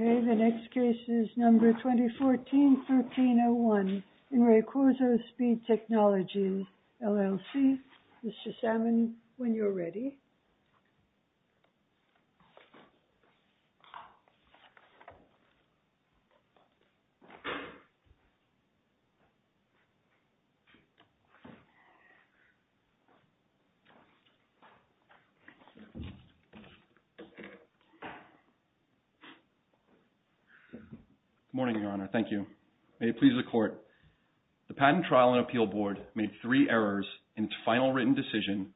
Okay, the next case is number 2014-1301 in Re Cuozzo Speed Technologies, LLC. Good morning, Mr. Salmon, when you're ready. Good morning, Your Honor. Thank you. May it please the Court. The Patent Trial and Appeal Board made three errors in its final written decision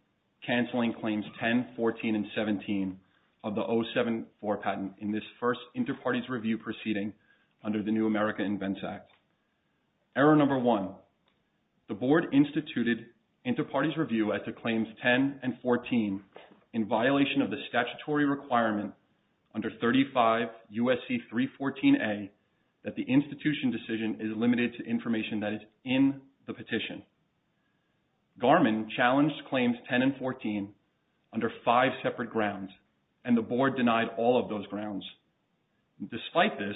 canceling Claims 10, 14, and 17 of the 074 patent in this first Interparties Review proceeding under the New America Invents Act. Error number one, the Board instituted Interparties Review as to Claims 10 and 14 in violation of the statutory requirement under 35 U.S.C. 314a that the institution decision is limited to information that is in the petition. Garmin challenged Claims 10 and 14 under five separate grounds and the Board denied all of those grounds. Despite this,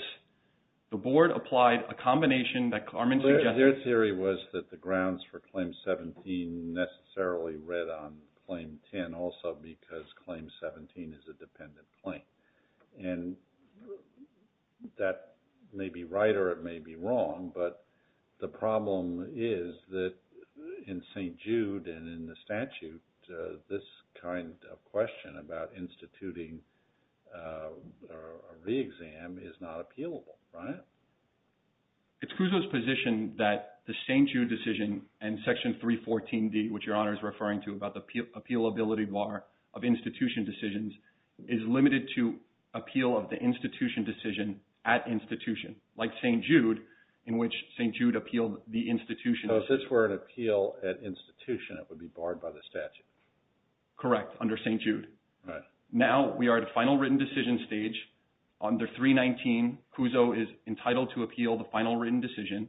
the Board applied a combination that Garmin suggested. Their theory was that the grounds for Claims 17 necessarily read on Claim 10 also because the problem is that in St. Jude and in the statute, this kind of question about instituting a re-exam is not appealable, right? It's Cuozzo's position that the St. Jude decision and Section 314d, which Your Honor is referring to about the appealability bar of institution decisions, is limited to appeal of the institution decision at institution, like St. Jude, in which St. Jude appealed the institution. So if this were an appeal at institution, it would be barred by the statute? Correct, under St. Jude. Now we are at a final written decision stage under 319, Cuozzo is entitled to appeal the final written decision.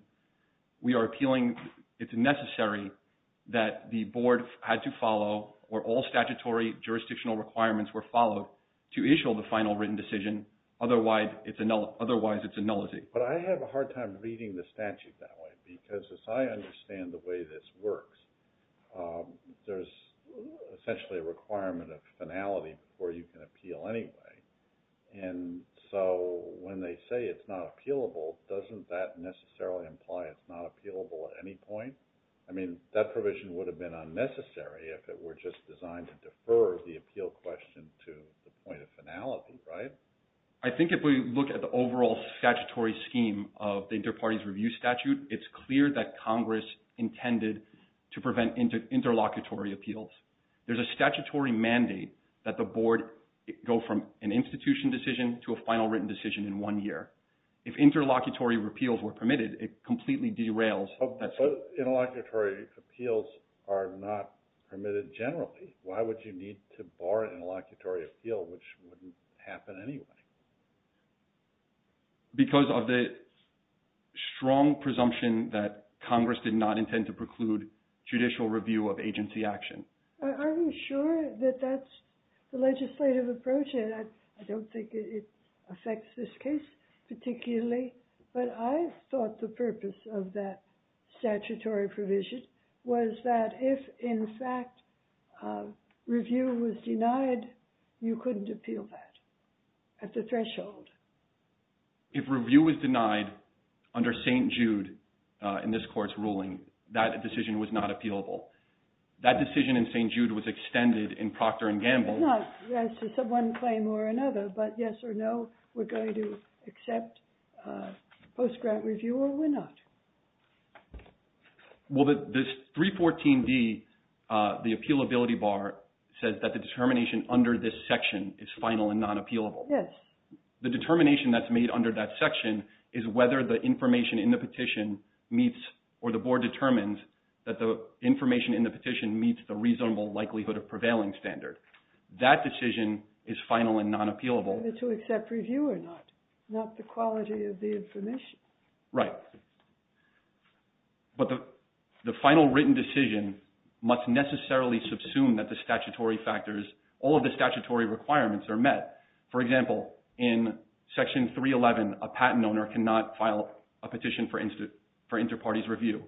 We are appealing. It's necessary that the Board had to follow or all statutory jurisdictional requirements were followed to issue the final written decision, otherwise it's a nullity. But I have a hard time reading the statute that way because as I understand the way this works, there's essentially a requirement of finality before you can appeal anyway. So when they say it's not appealable, doesn't that necessarily imply it's not appealable at any point? I mean, that provision would have been unnecessary if it were just designed to defer the appeal question to the point of finality, right? I think if we look at the overall statutory scheme of the Interparties Review Statute, it's clear that Congress intended to prevent interlocutory appeals. There's a statutory mandate that the Board go from an institution decision to a final written decision in one year. If interlocutory appeals were permitted, it completely derails. Interlocutory appeals are not permitted generally. Why would you need to bar an interlocutory appeal, which wouldn't happen anyway? Because of the strong presumption that Congress did not intend to preclude judicial review of agency action. I'm not sure that that's the legislative approach, and I don't think it affects this case particularly, but I thought the purpose of that statutory provision was that if in fact review was denied, you couldn't appeal that at the threshold. If review was denied under St. Jude in this court's ruling, that decision was not appealable. That decision in St. Jude was extended in Procter & Gamble. It's not just one claim or another, but yes or no, we're going to accept post-grant review or we're not. This 314D, the appealability bar, says that the determination under this section is final and not appealable. Yes. The determination that's made under that section is whether the information in the petition meets or the Board determines that the information in the petition meets the reasonable likelihood of prevailing standard. That decision is final and non-appealable. Whether to accept review or not, not the quality of the information. Right. But the final written decision must necessarily subsume that the statutory factors, all of the statutory requirements are met. For example, in Section 311, a patent owner cannot file a petition for inter-parties review.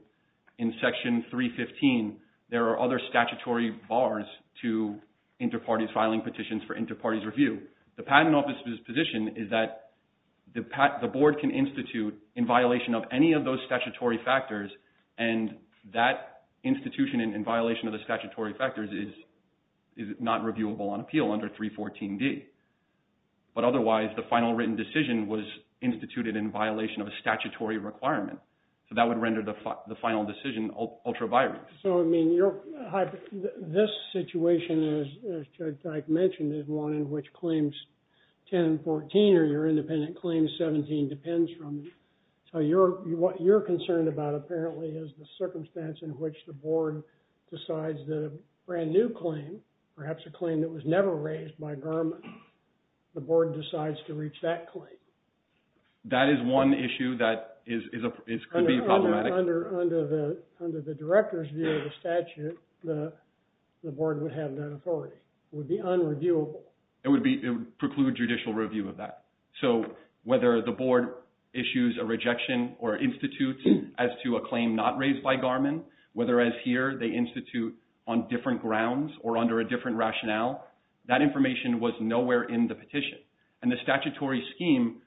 In Section 315, there are other statutory bars to inter-parties filing petitions for inter-parties review. The Patent Office's position is that the Board can institute in violation of any of those statutory factors and that institution in violation of the statutory factors is not reviewable on appeal under 314D. But otherwise, the final written decision was instituted in violation of a statutory requirement. So that would render the final decision ultra-viral. So, I mean, this situation, as Judge Teich mentioned, is one in which Claims 10 and 14 or your independent Claims 17 depends from. So what you're concerned about apparently is the circumstance in which the Board decides that a brand new claim, perhaps a claim that was never raised by government, the Board decides to reach that claim. That is one issue that could be problematic. Under the Director's view of the statute, the Board would have that authority. It would be unreviewable. It would preclude judicial review of that. So whether the Board issues a rejection or institutes as to a claim not raised by Garmin, whether as here they institute on different grounds or under a different rationale, that information was nowhere in the petition. And the statutory scheme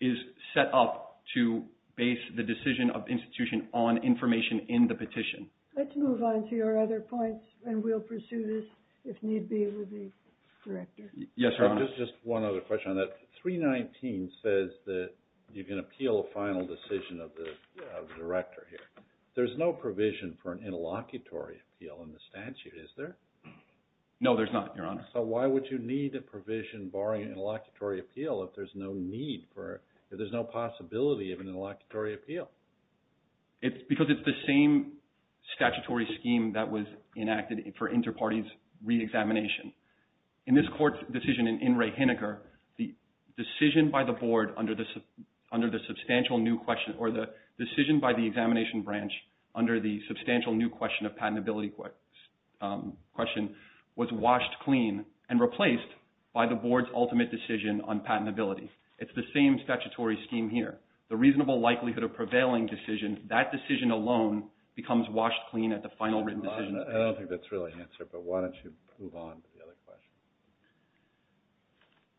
is set up to base the decision of the institution on information in the petition. Let's move on to your other points and we'll pursue this if need be with the Director. Yes, Your Honor. Just one other question on that. 319 says that you can appeal a final decision of the Director here. There's no provision for an interlocutory appeal in the statute, is there? No, there's not, Your Honor. So why would you need a provision barring an interlocutory appeal if there's no need for, if there's no possibility of an interlocutory appeal? Because it's the same statutory scheme that was enacted for inter-parties re-examination. In this court decision in In re Hineker, the decision by the Board under the substantial new question, or the decision by the examination branch under the substantial new question of patentability question, was washed clean and replaced by the Board's ultimate decision on patentability. It's the same statutory scheme here. The reasonable likelihood of prevailing decision, that decision alone becomes washed clean at the final written decision. I don't think that's really answered, but why don't you move on to the other question.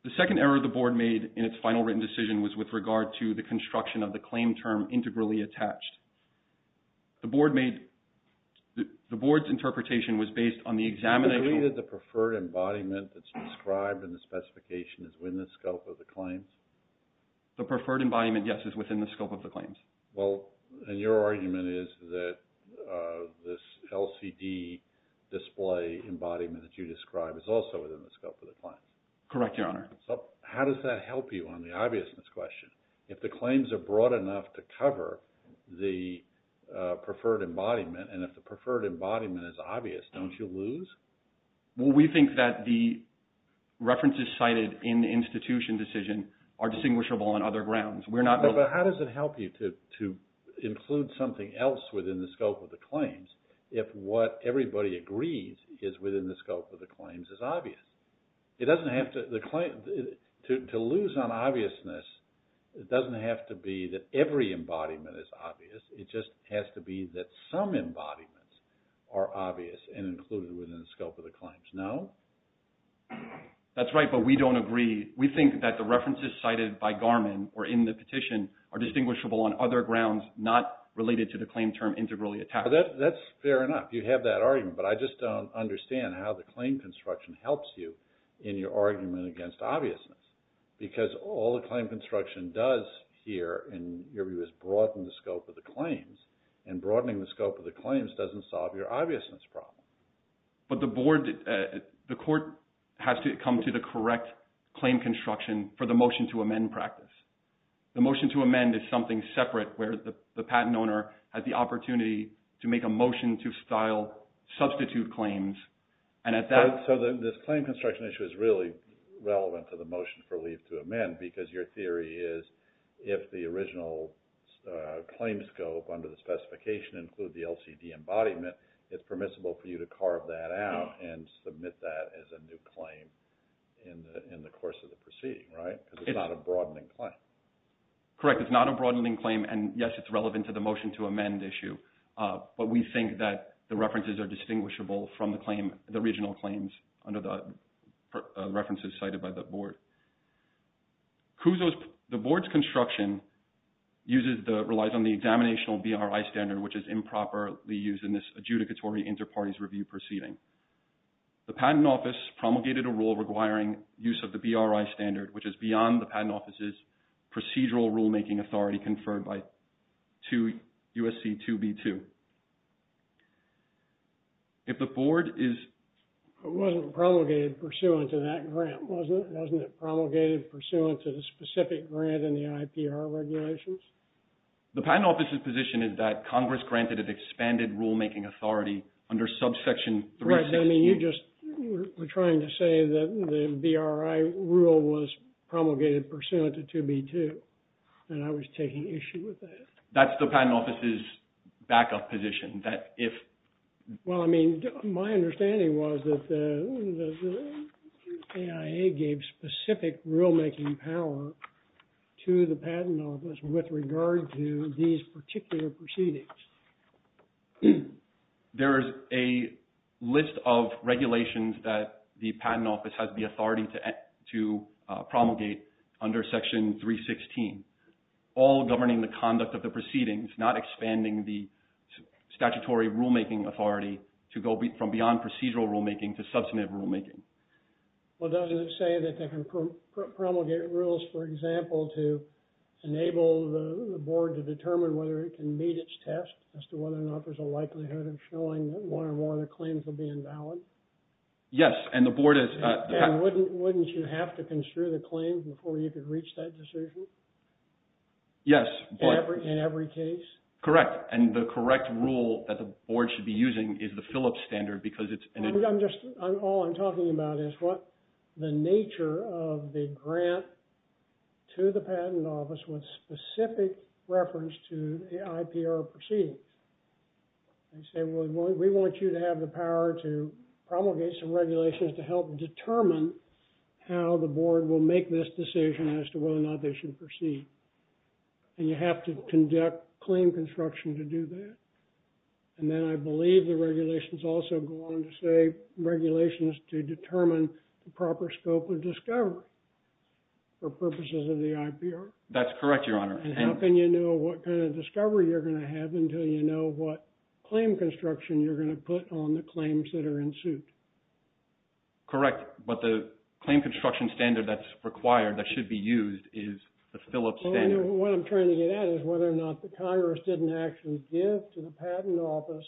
The second error the Board made in its final written decision was with regard to the construction of the claim term integrally attached. The Board made, the Board's interpretation was based on the examination. You believe that the preferred embodiment that's described in the specification is within the scope of the claims? The preferred embodiment, yes, is within the scope of the claims. Well, and your argument is that this LCD display embodiment that you describe is also within the scope of the claims. Correct, Your Honor. So how does that help you on the obviousness question? If the claims are broad enough to cover the preferred embodiment, and if the preferred embodiment is obvious, don't you lose? Well, we think that the references cited in the institution decision are distinguishable on other grounds. We're not... But how does it help you to include something else within the scope of the claims if what everybody agrees is within the scope of the claims is obvious? It doesn't have to... To lose on obviousness, it doesn't have to be that every embodiment is obvious. It just has to be that some embodiments are obvious and included within the scope of the claims. No? That's right, but we don't agree. We think that the references cited by Garmin or in the petition are distinguishable on other grounds not related to the claim term integrally attached. That's fair enough. You have that argument, but I just don't understand how the claim construction helps you in your argument against obviousness. Because all the claim construction does here, in your view, is broaden the scope of the claims. And broadening the scope of the claims doesn't solve your obviousness problem. But the board... The court has to come to the correct claim construction for the motion to amend practice. The motion to amend is something separate where the patent owner has the opportunity to make a motion to style, substitute claims, and at that... So this claim construction issue is really relevant to the motion for leave to amend because your theory is if the original claim scope under the specification include the LCD embodiment, it's permissible for you to carve that out and submit that as a new claim in the course of the proceeding, right? Because it's not a broadening claim. Correct. It's not a broadening claim, and yes, it's relevant to the motion to amend issue. But we think that the references are distinguishable from the claim... The original claims under the references cited by the board. Kuzo's... The board's construction uses the... Relies on the examinational BRI standard, which is improperly used in this adjudicatory inter-parties review proceeding. The patent office promulgated a rule requiring use of the BRI standard, which is beyond the 2B2. If the board is... It wasn't promulgated pursuant to that grant, wasn't it? Wasn't it promulgated pursuant to the specific grant in the IPR regulations? The patent office's position is that Congress granted an expanded rule-making authority under subsection 360. Right. I mean, you just were trying to say that the BRI rule was promulgated pursuant to 2B2, and I was taking issue with that. That's the patent office's backup position, that if... Well, I mean, my understanding was that the AIA gave specific rule-making power to the patent office with regard to these particular proceedings. There is a list of regulations that the patent office has the authority to promulgate under section 316, all governing the conduct of the proceedings, not expanding the statutory rule-making authority to go from beyond procedural rule-making to substantive rule-making. Well, doesn't it say that they can promulgate rules, for example, to enable the board to determine whether it can meet its test as to whether or not there's a likelihood of showing that one or more of the claims will be invalid? Yes, and the board is... And wouldn't you have to construe the claim before you could reach that decision? Yes, but... In every case? Correct. And the correct rule that the board should be using is the Phillips standard because it's... I'm just... All I'm talking about is what the nature of the grant to the patent office with specific reference to the IPR proceedings. They say, well, we want you to have the power to promulgate some regulations to help determine how the board will make this decision as to whether or not they should proceed. And you have to conduct claim construction to do that. And then I believe the regulations also go on to say regulations to determine the proper scope of discovery for purposes of the IPR. That's correct, Your Honor. And how can you know what kind of discovery you're going to have until you know what claim construction you're going to put on the claims that are in suit? Correct. But the claim construction standard that's required that should be used is the Phillips standard. What I'm trying to get at is whether or not the Congress didn't actually give to the patent office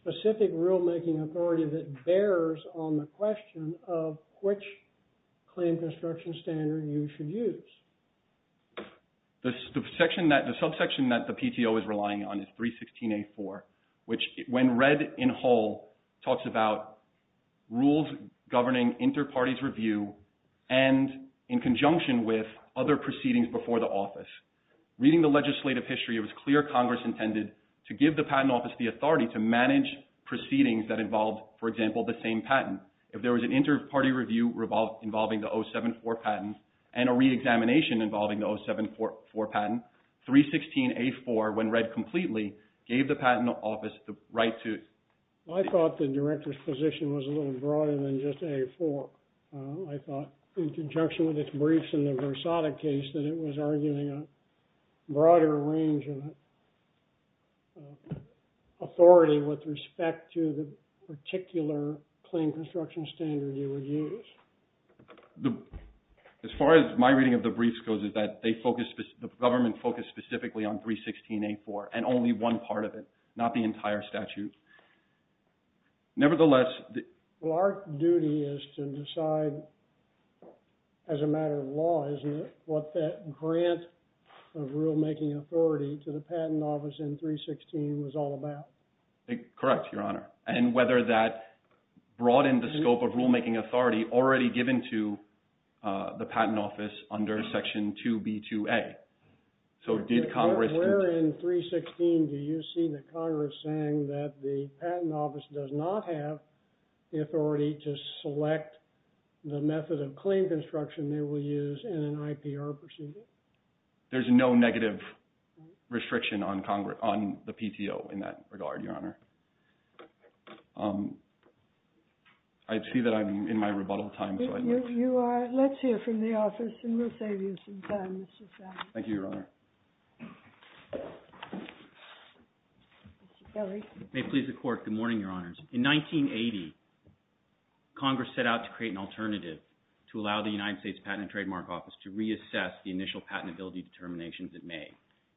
specific rulemaking authority that bears on the question of which claim construction standard you should use. The subsection that the PTO is relying on is 316A4, which when read in whole, talks about rules governing inter-parties review and in conjunction with other proceedings before the office. Reading the legislative history, it was clear Congress intended to give the patent office the authority to manage proceedings that involved, for example, the same patent. If there was an inter-party review involving the 074 patent and a reexamination involving the 074 patent, 316A4, when read completely, gave the patent office the right to... I thought the director's position was a little broader than just A4. I thought in conjunction with its briefs in the Versada case that it was arguing a broader range of authority with respect to the particular claim construction standard you would use. As far as my reading of the briefs goes is that the government focused specifically on 316A4 and only one part of it, not the entire statute. Nevertheless... Well, our duty is to decide as a matter of law, isn't it, what that grant of rulemaking authority to the patent office in 316 was all about. Correct, Your Honor. And whether that broadened the scope of rulemaking authority already given to the patent office under Section 2B2A. So did Congress... Where in 316 do you see that Congress saying that the patent office does not have the authority to select the method of claim construction they will use in an IPR procedure? There's no negative restriction on the PTO in that regard, Your Honor. I see that I'm in my rebuttal time, so I'd like to... Let's hear from the office and we'll save you some time, Mr. Sam. Thank you, Your Honor. Mr. Kelly. May it please the Court. Good morning, Your Honors. In 1980, Congress set out to create an alternative to allow the United States Patent and Trademark Office to reassess the initial patentability determinations it made.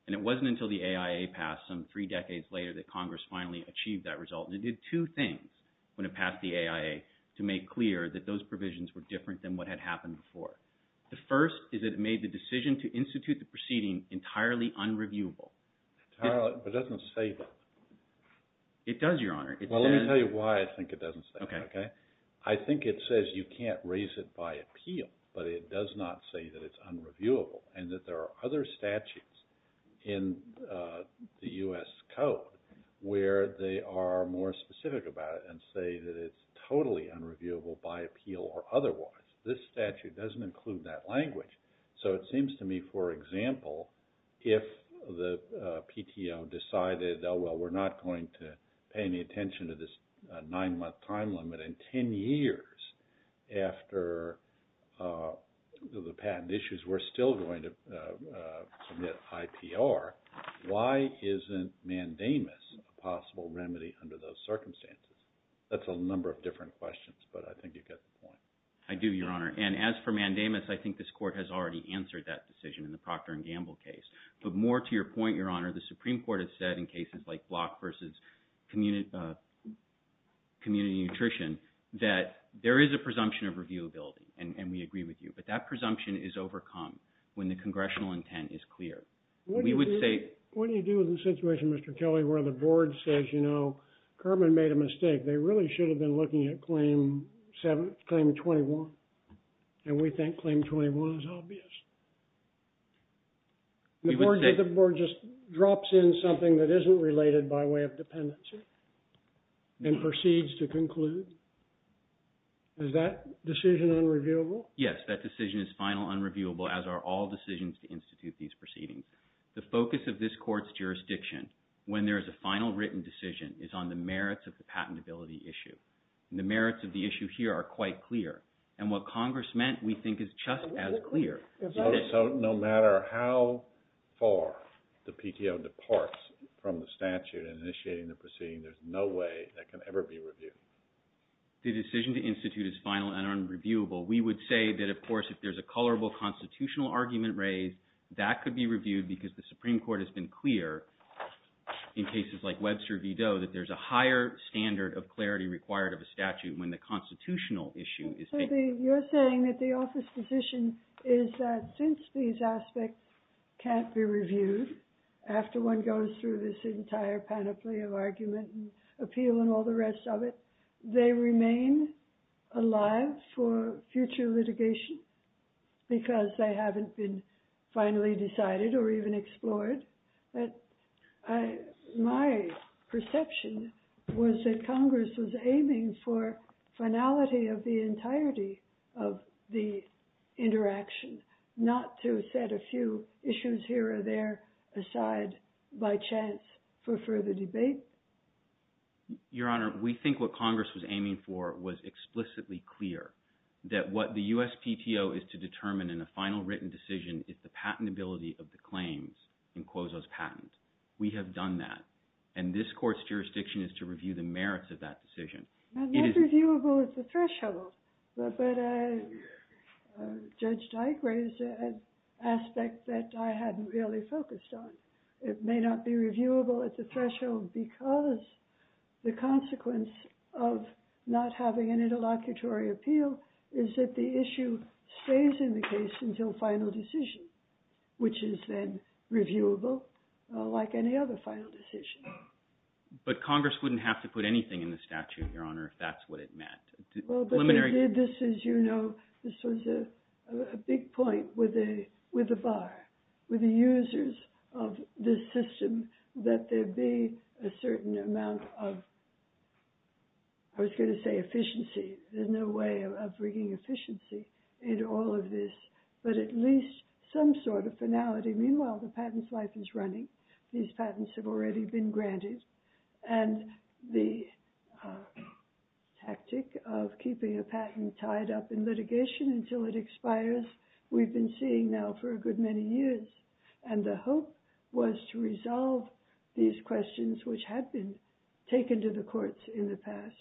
And it wasn't until the AIA passed some three decades later that Congress finally achieved that result. And it did two things when it passed the AIA to make clear that those provisions were different than what had happened before. The first is that it made the decision to institute the proceeding entirely unreviewable. Entirely, but it doesn't say that. It does, Your Honor. Well, let me tell you why I think it doesn't say that, okay? I think it says you can't raise it by appeal, but it does not say that it's unreviewable and that there are other statutes in the U.S. Code where they are more specific about it and say that it's totally unreviewable by appeal or otherwise. This statute doesn't include that language. So it seems to me, for example, if the PTO decided, oh, well, we're not going to pay any attention to this nine-month time limit and ten years after the patent issues, we're still going to submit IPR, why isn't mandamus a possible remedy under those circumstances? That's a number of different questions, but I think you get the point. I do, Your Honor. And as for mandamus, I think this Court has already answered that decision in the Procter & Gamble case. But more to your point, Your Honor, the Supreme Court has said in cases like block versus community nutrition that there is a presumption of reviewability, and we agree with you, but that presumption is overcome when the congressional intent is clear. What do you do in the situation, Mr. Kelly, where the board says, you know, Kerman made a mistake, they really should have been looking at Claim 21, and we think Claim 21 is obvious. The board just drops in something that isn't related by way of dependency and proceeds to conclude. Is that decision unreviewable? Yes, that decision is final unreviewable, as are all decisions to institute these proceedings. The focus of this Court's jurisdiction, when there is a final written decision, is on the merits of the patentability issue. The merits of the issue here are quite clear, and what Congress meant, we think, is just as clear. So no matter how far the PTO departs from the statute in initiating the proceeding, there's no way that can ever be reviewed. The decision to institute is final and unreviewable. We would say that, of course, if there's a colorable constitutional argument raised, that could be reviewed because the Supreme Court has been clear in cases like Webster v. Doe that there's a higher standard of clarity required of a statute when the constitutional issue is taken. You're saying that the office position is that since these aspects can't be reviewed after one goes through this entire panoply of argument and appeal and all the rest of it, they remain alive for future litigation because they haven't been finally decided or even explored. My perception was that Congress was aiming for finality of the entirety of the interaction, not to set a few issues here or there aside by chance for further debate. Your Honor, we think what Congress was aiming for was explicitly clear, that what the USPTO is to determine in a final written decision is the patentability of the claims in Quozo's patent. We have done that. And this court's jurisdiction is to review the merits of that decision. Not reviewable at the threshold, but Judge Dike raised an aspect that I hadn't really focused on. It may not be reviewable at the threshold because the consequence of not having an interlocutory appeal is that the issue stays in the case until final decision, which is then reviewable like any other final decision. But Congress wouldn't have to put anything in the statute, Your Honor, if that's what it meant. Well, but they did this, as you know. This was a big point with the bar, with the users of this system, that there be a certain amount of, I was going to say efficiency. There's no way of bringing efficiency into all of this, but at least some sort of finality. Meanwhile, the patent's life is running. These patents have already been granted. And the tactic of keeping a patent tied up in litigation until it expires, we've been seeing now for a good many years. And the hope was to resolve these questions, which had been taken to the courts in the past,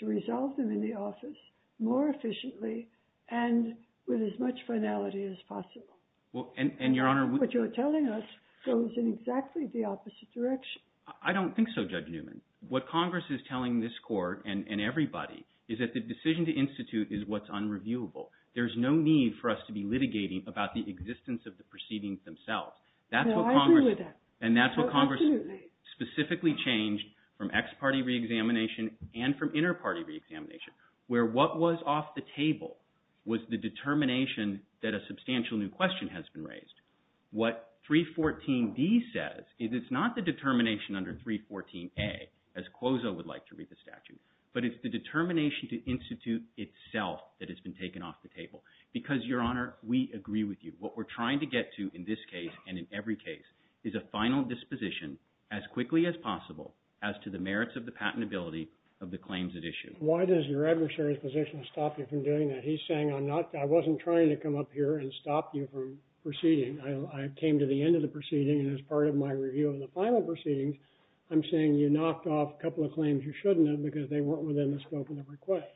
to resolve them in the office more efficiently and with as much finality as possible. And, Your Honor, what you're telling us goes in exactly the opposite direction. I don't think so, Judge Newman. What Congress is telling this Court and everybody is that the decision to institute is what's unreviewable. There's no need for us to be litigating about the existence of the proceedings themselves. No, I agree with that. And that's what Congress specifically changed from ex-party reexamination and from inter-party reexamination, where what was off the table was the determination that a substantial new question has been raised. What 314D says is it's not the determination under 314A, as Quozo would like to read the statute, but it's the determination to institute itself that has been taken off the table. Because, Your Honor, we agree with you. What we're trying to get to in this case and in every case is a final disposition as quickly as possible as to the merits of the patentability of the claims at issue. Why does your adversary's position stop you from doing that? He's saying, I wasn't trying to come up here and stop you from proceeding. I came to the end of the proceeding, and as part of my review of the final proceedings, I'm saying you knocked off a couple of claims you shouldn't have because they weren't within the scope of the request.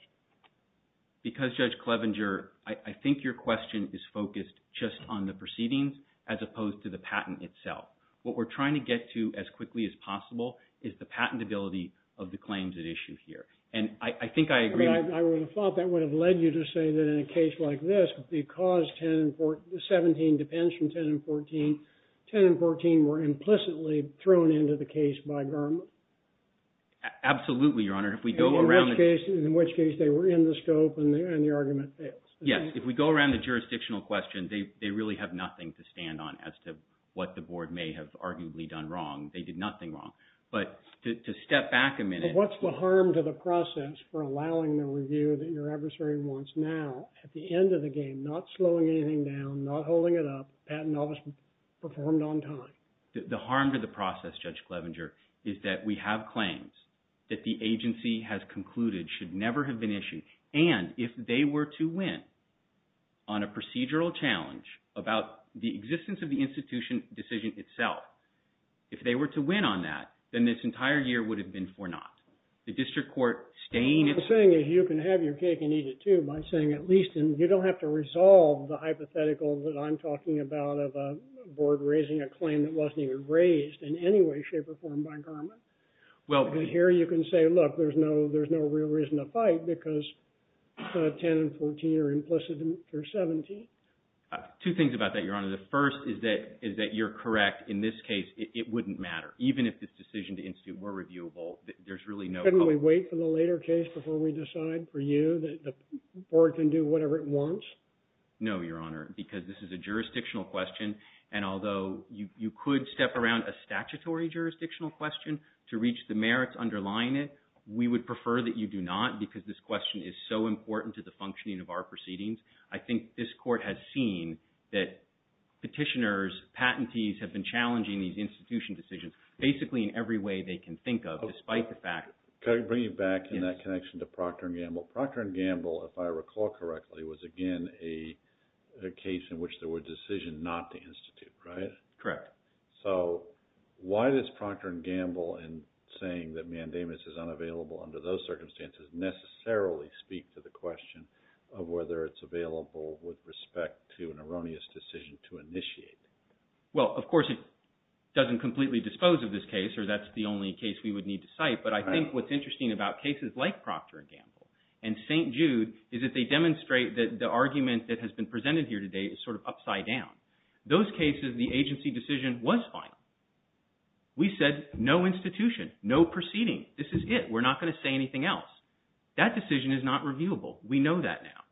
Because, Judge Clevenger, I think your question is focused just on the proceedings as opposed to the patent itself. What we're trying to get to as quickly as possible is the patentability of the claims at issue here. And I think I agree with you. I would have thought that would have led you to say that in a case like this, because 17 depends from 10 and 14, 10 and 14 were implicitly thrown into the case by government. Absolutely, Your Honor. In which case they were in the scope and the argument fails. Yes, if we go around the jurisdictional question, they really have nothing to stand on as to what the board may have arguably done wrong. They did nothing wrong. But to step back a minute. But what's the harm to the process for allowing the review that your adversary wants now, at the end of the game, not slowing anything down, not holding it up, patent office performed on time? The harm to the process, Judge Clevenger, is that we have claims that the agency has concluded should never have been issued. And if they were to win on a procedural challenge about the existence of the institution decision itself, if they were to win on that, then this entire year would have been for naught. The district court staying at... The thing is you can have your cake and eat it, too, by saying at least you don't have to resolve the hypothetical that I'm talking about of a board raising a claim that wasn't even raised in any way, shape, or form by government. Well... And here you can say, look, there's no real reason to fight because 10 and 14 are implicit and 17. Two things about that, Your Honor. The first is that you're correct. In this case, it wouldn't matter. Even if this decision to institute were reviewable, there's really no... Couldn't we wait for the later case before we decide for you that the board can do whatever it wants? No, Your Honor, because this is a jurisdictional question. And although you could step around a statutory jurisdictional question to reach the merits underlying it, we would prefer that you do not because this question is so important to the functioning of our proceedings. I think this court has seen that petitioners, patentees, have been challenging these institution decisions basically in every way they can think of despite the fact... Can I bring you back in that connection to Procter & Gamble? Procter & Gamble, if I recall correctly, was again a case in which there were decisions not to institute, right? Correct. So why does Procter & Gamble in saying that mandamus is unavailable under those circumstances necessarily speak to the question of whether it's available with respect to an erroneous decision to initiate? Well, of course, it doesn't completely dispose of this case or that's the only case we would need to cite. But I think what's interesting about cases like Procter & Gamble and St. Jude is that they demonstrate that the argument that has been presented here today is sort of upside down. Those cases, the agency decision was final. We said no institution, no proceeding. This is it. We're not going to say anything else. That decision is not reviewable. We know that now.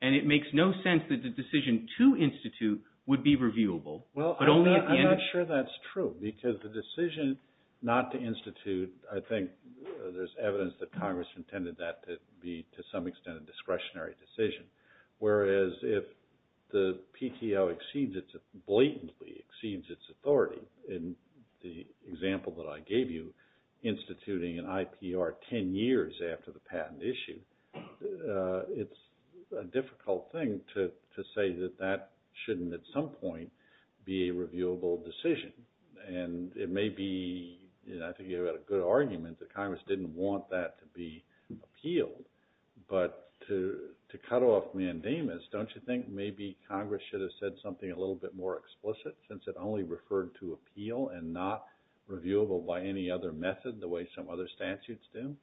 And it makes no sense that the decision to institute would be reviewable. Well, I'm not sure that's true because the decision not to institute, I think there's evidence that Congress intended that to be to some extent a discretionary decision. Whereas if the PTO blatantly exceeds its authority in the example that I gave you, instituting an IPR 10 years after the patent issue, it's a difficult thing to say that that shouldn't at some point be a reviewable decision. And it may be, I think you have a good argument that Congress didn't want that to be appealed. But to cut off mandamus, don't you think maybe Congress should have said something a little bit more explicit since it only referred to appeal and not reviewable by any other method the way some other statutes do?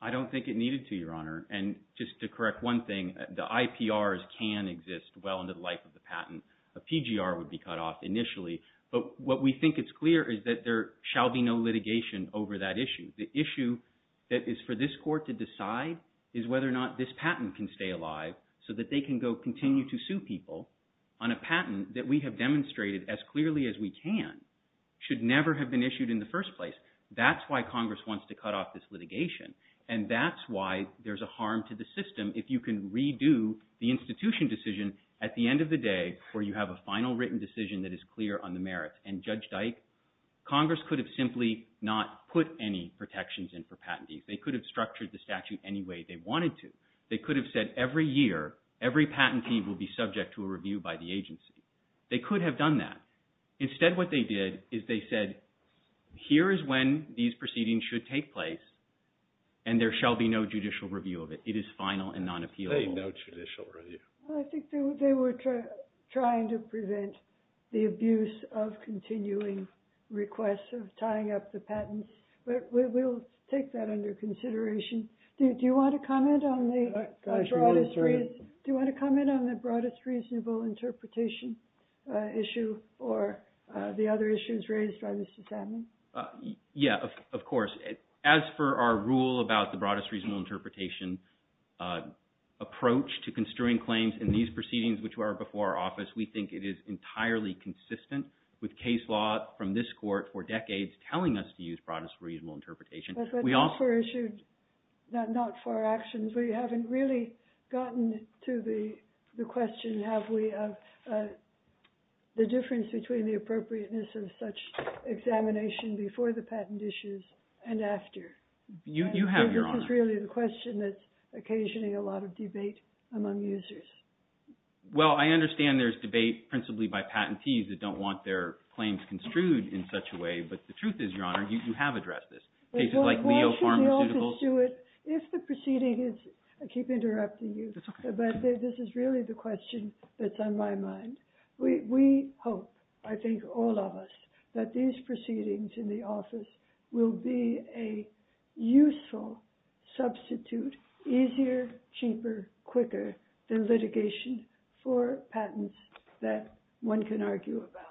I don't think it needed to, Your Honor. And just to correct one thing, the IPRs can exist well into the life of the patent. A PGR would be cut off initially. But what we think is clear is that there shall be no litigation over that issue. The issue that is for this court to decide is whether or not this patent can stay alive so that they can go continue to sue people on a patent that we have demonstrated as clearly as we can should never have been issued in the first place. That's why Congress wants to cut off this litigation. And that's why there's a harm to the system if you can redo the institution decision at the end of the day where you have a final written decision that is clear on the merits. And Judge Dyke, Congress could have simply not put any protections in for patentees. They could have structured the statute any way they wanted to. They could have said every year, every patentee will be subject to a review by the agency. They could have done that. Instead, what they did is they said, here is when these proceedings should take place and there shall be no judicial review of it. It is final and non-appealable. No judicial review. Well, I think they were trying to prevent the abuse of continuing requests of tying up the patents. We'll take that under consideration. Do you want to comment on the broadest reasonable interpretation issue or the other issues raised by Mr. Sandlin? Yeah, of course. As for our rule about the broadest reasonable interpretation approach to construing claims in these proceedings, which were before our office, we think it is entirely consistent with case law from this court for decades telling us to use broadest reasonable interpretation. But those were issued not for actions. We haven't really gotten to the question, have we, of the difference between the appropriateness of such examination before the patent issues and after. You have, Your Honor. This is really the question that's occasioning a lot of debate among users. Well, I understand there's debate principally by patentees that don't want their claims construed in such a way. But the truth is, Your Honor, you have addressed this. Cases like Leo Pharmaceuticals. I keep interrupting you, but this is really the question that's on my mind. We hope, I think all of us, that these proceedings in the office will be a useful substitute, easier, cheaper, quicker than litigation for patents that one can argue about.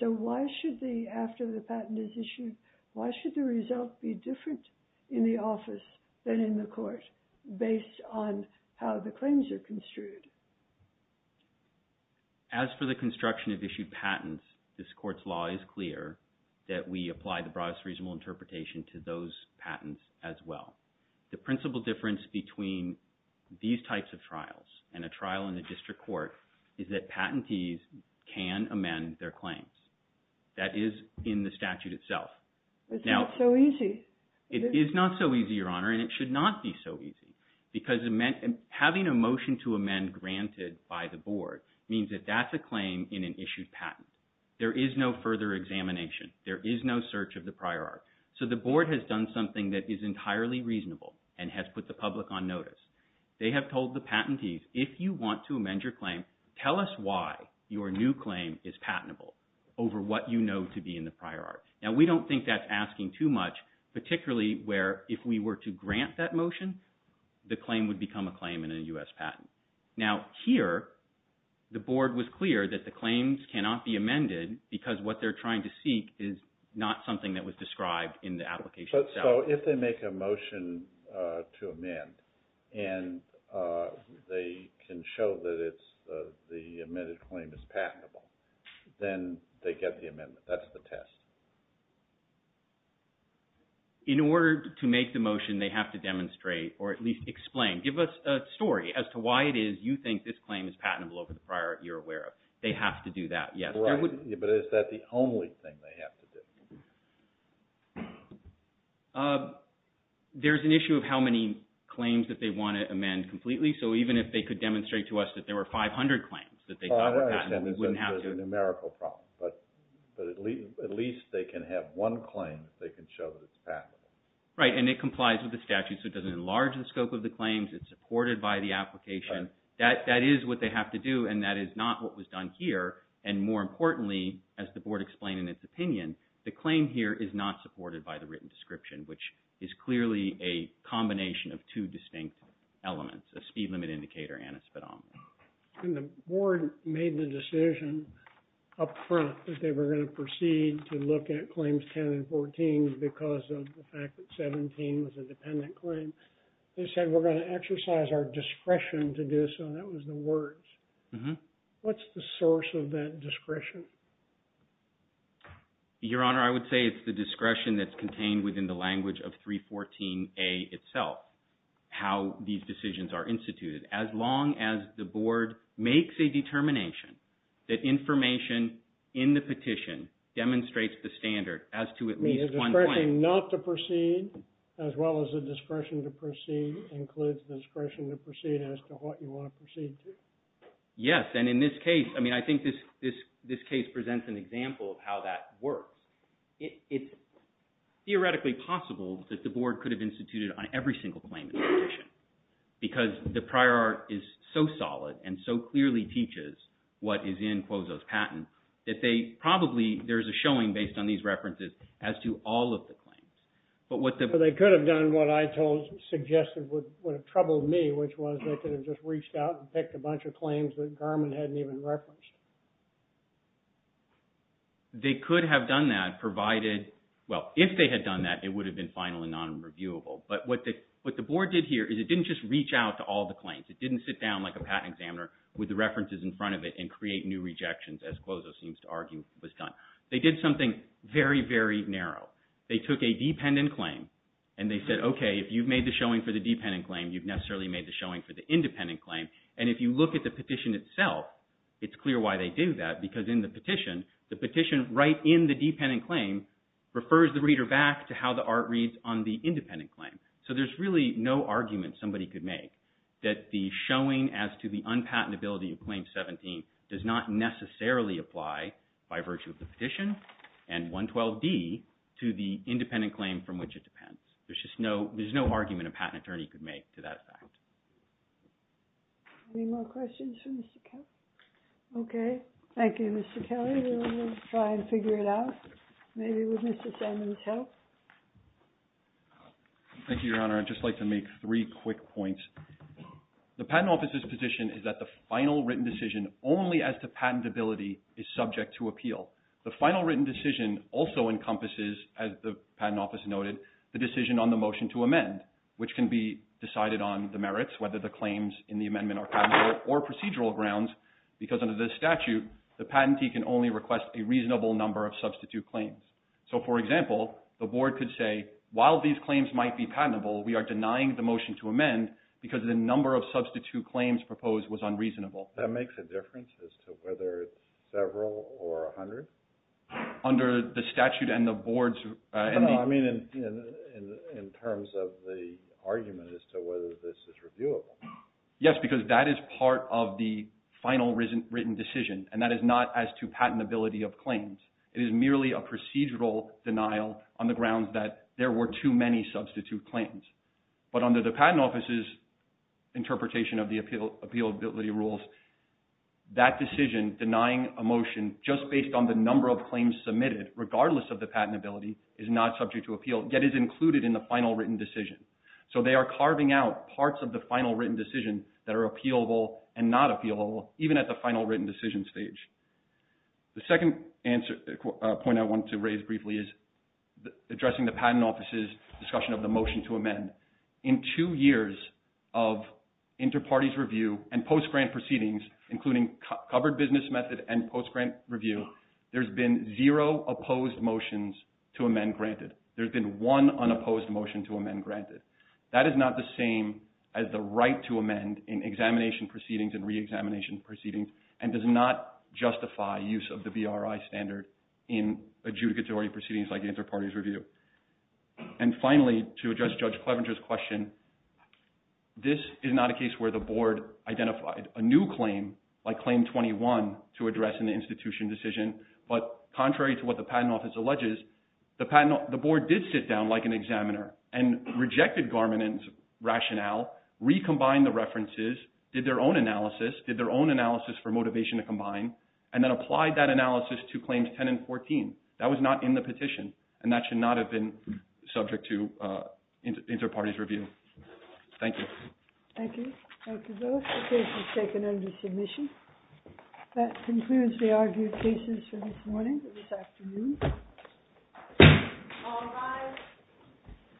So why should the, after the patent is issued, why should the result be different in the office than in the court based on how the claims are construed? As for the construction of issued patents, this court's law is clear that we apply the broadest reasonable interpretation to those patents as well. The principal difference between these types of trials and a trial in a district court is that patentees can amend their claims. That is in the statute itself. It's not so easy. It is not so easy, Your Honor, and it should not be so easy. Because having a motion to amend granted by the board means that that's a claim in an issued patent. There is no further examination. There is no search of the prior art. So the board has done something that is entirely reasonable and has put the public on notice. They have told the patentees, if you want to amend your claim, tell us why your new claim is patentable over what you know to be in the prior art. Now, we don't think that's asking too much, particularly where if we were to grant that motion, the claim would become a claim in a U.S. patent. Now, here, the board was clear that the claims cannot be amended because what they're trying to seek is not something that was described in the application. So if they make a motion to amend and they can show that the amended claim is patentable, then they get the amendment. That's the test. In order to make the motion, they have to demonstrate or at least explain. Give us a story as to why it is you think this claim is patentable over the prior art you're aware of. They have to do that, yes. But is that the only thing they have to do? There's an issue of how many claims that they want to amend completely. So even if they could demonstrate to us that there were 500 claims that they thought were patentable, we wouldn't have to. There's a numerical problem, but at least they can have one claim that they can show that it's patentable. Right, and it complies with the statute, so it doesn't enlarge the scope of the claims. It's supported by the application. That is what they have to do, and that is not what was done here. And more importantly, as the board explained in its opinion, the claim here is not supported by the written description, which is clearly a combination of two distinct elements, a speed limit indicator and a speedometer. And the board made the decision up front that they were going to proceed to look at claims 10 and 14 because of the fact that 17 was a dependent claim. They said we're going to exercise our discretion to do so. That was the words. What's the source of that discretion? Your Honor, I would say it's the discretion that's contained within the language of 314A itself, how these decisions are instituted. As long as the board makes a determination that information in the petition demonstrates the standard as to at least one point. Claim not to proceed as well as the discretion to proceed includes the discretion to proceed as to what you want to proceed to. Yes, and in this case, I mean, I think this case presents an example of how that works. It's theoretically possible that the board could have instituted on every single claim in the petition because the prior art is so solid and so clearly teaches what is in Quozo's patent that they probably, there's a showing based on these references as to all of the claims. They could have done what I suggested would have troubled me, which was they could have just reached out and picked a bunch of claims that Garman hadn't even referenced. They could have done that provided, well, if they had done that, it would have been final and non-reviewable. But what the board did here is it didn't just reach out to all the claims. It didn't sit down like a patent examiner with the references in front of it and create new rejections as Quozo seems to argue was done. They did something very, very narrow. They took a dependent claim and they said, okay, if you've made the showing for the dependent claim, you've necessarily made the showing for the independent claim. And if you look at the petition itself, it's clear why they do that because in the petition, the petition right in the dependent claim refers the reader back to how the art reads on the independent claim. So there's really no argument somebody could make that the showing as to the unpatentability of Claim 17 does not necessarily apply by virtue of the petition and 112D to the independent claim from which it depends. There's just no argument a patent attorney could make to that fact. Any more questions for Mr. Kelly? Okay. Thank you, Mr. Kelly. We'll try and figure it out, maybe with Mr. Sandman's help. Thank you, Your Honor. I'd just like to make three quick points. The Patent Office's position is that the final written decision only as to patentability is subject to appeal. The final written decision also encompasses, as the Patent Office noted, the decision on the motion to amend, which can be decided on the merits, whether the claims in the amendment are patentable or procedural grounds, because under the statute, the patentee can only request a reasonable number of substitute claims. So, for example, the Board could say, while these claims might be patentable, we are denying the motion to amend because the number of substitute claims proposed was unreasonable. That makes a difference as to whether it's several or a hundred? Under the statute and the Board's… No, I mean in terms of the argument as to whether this is reviewable. Yes, because that is part of the final written decision, and that is not as to patentability of claims. It is merely a procedural denial on the grounds that there were too many substitute claims. But under the Patent Office's interpretation of the appealability rules, that decision denying a motion just based on the number of claims submitted, regardless of the patentability, is not subject to appeal, yet is included in the final written decision. So they are carving out parts of the final written decision that are appealable and not appealable, even at the final written decision stage. The second point I want to raise briefly is addressing the Patent Office's discussion of the motion to amend. In two years of inter-parties review and post-grant proceedings, including covered business method and post-grant review, there's been zero opposed motions to amend granted. There's been one unopposed motion to amend granted. That is not the same as the right to amend in examination proceedings and re-examination proceedings, and does not justify use of the BRI standard in adjudicatory proceedings like inter-parties review. And finally, to address Judge Clevenger's question, this is not a case where the Board identified a new claim, like Claim 21, to address in the institution decision. But contrary to what the Patent Office alleges, the Board did sit down like an examiner and rejected Garmin's rationale, recombined the references, did their own analysis, for motivation to combine, and then applied that analysis to Claims 10 and 14. That was not in the petition, and that should not have been subject to inter-parties review. Thank you. Thank you. Thank you both. The case is taken under submission. That concludes the argued cases for this morning and this afternoon. All rise.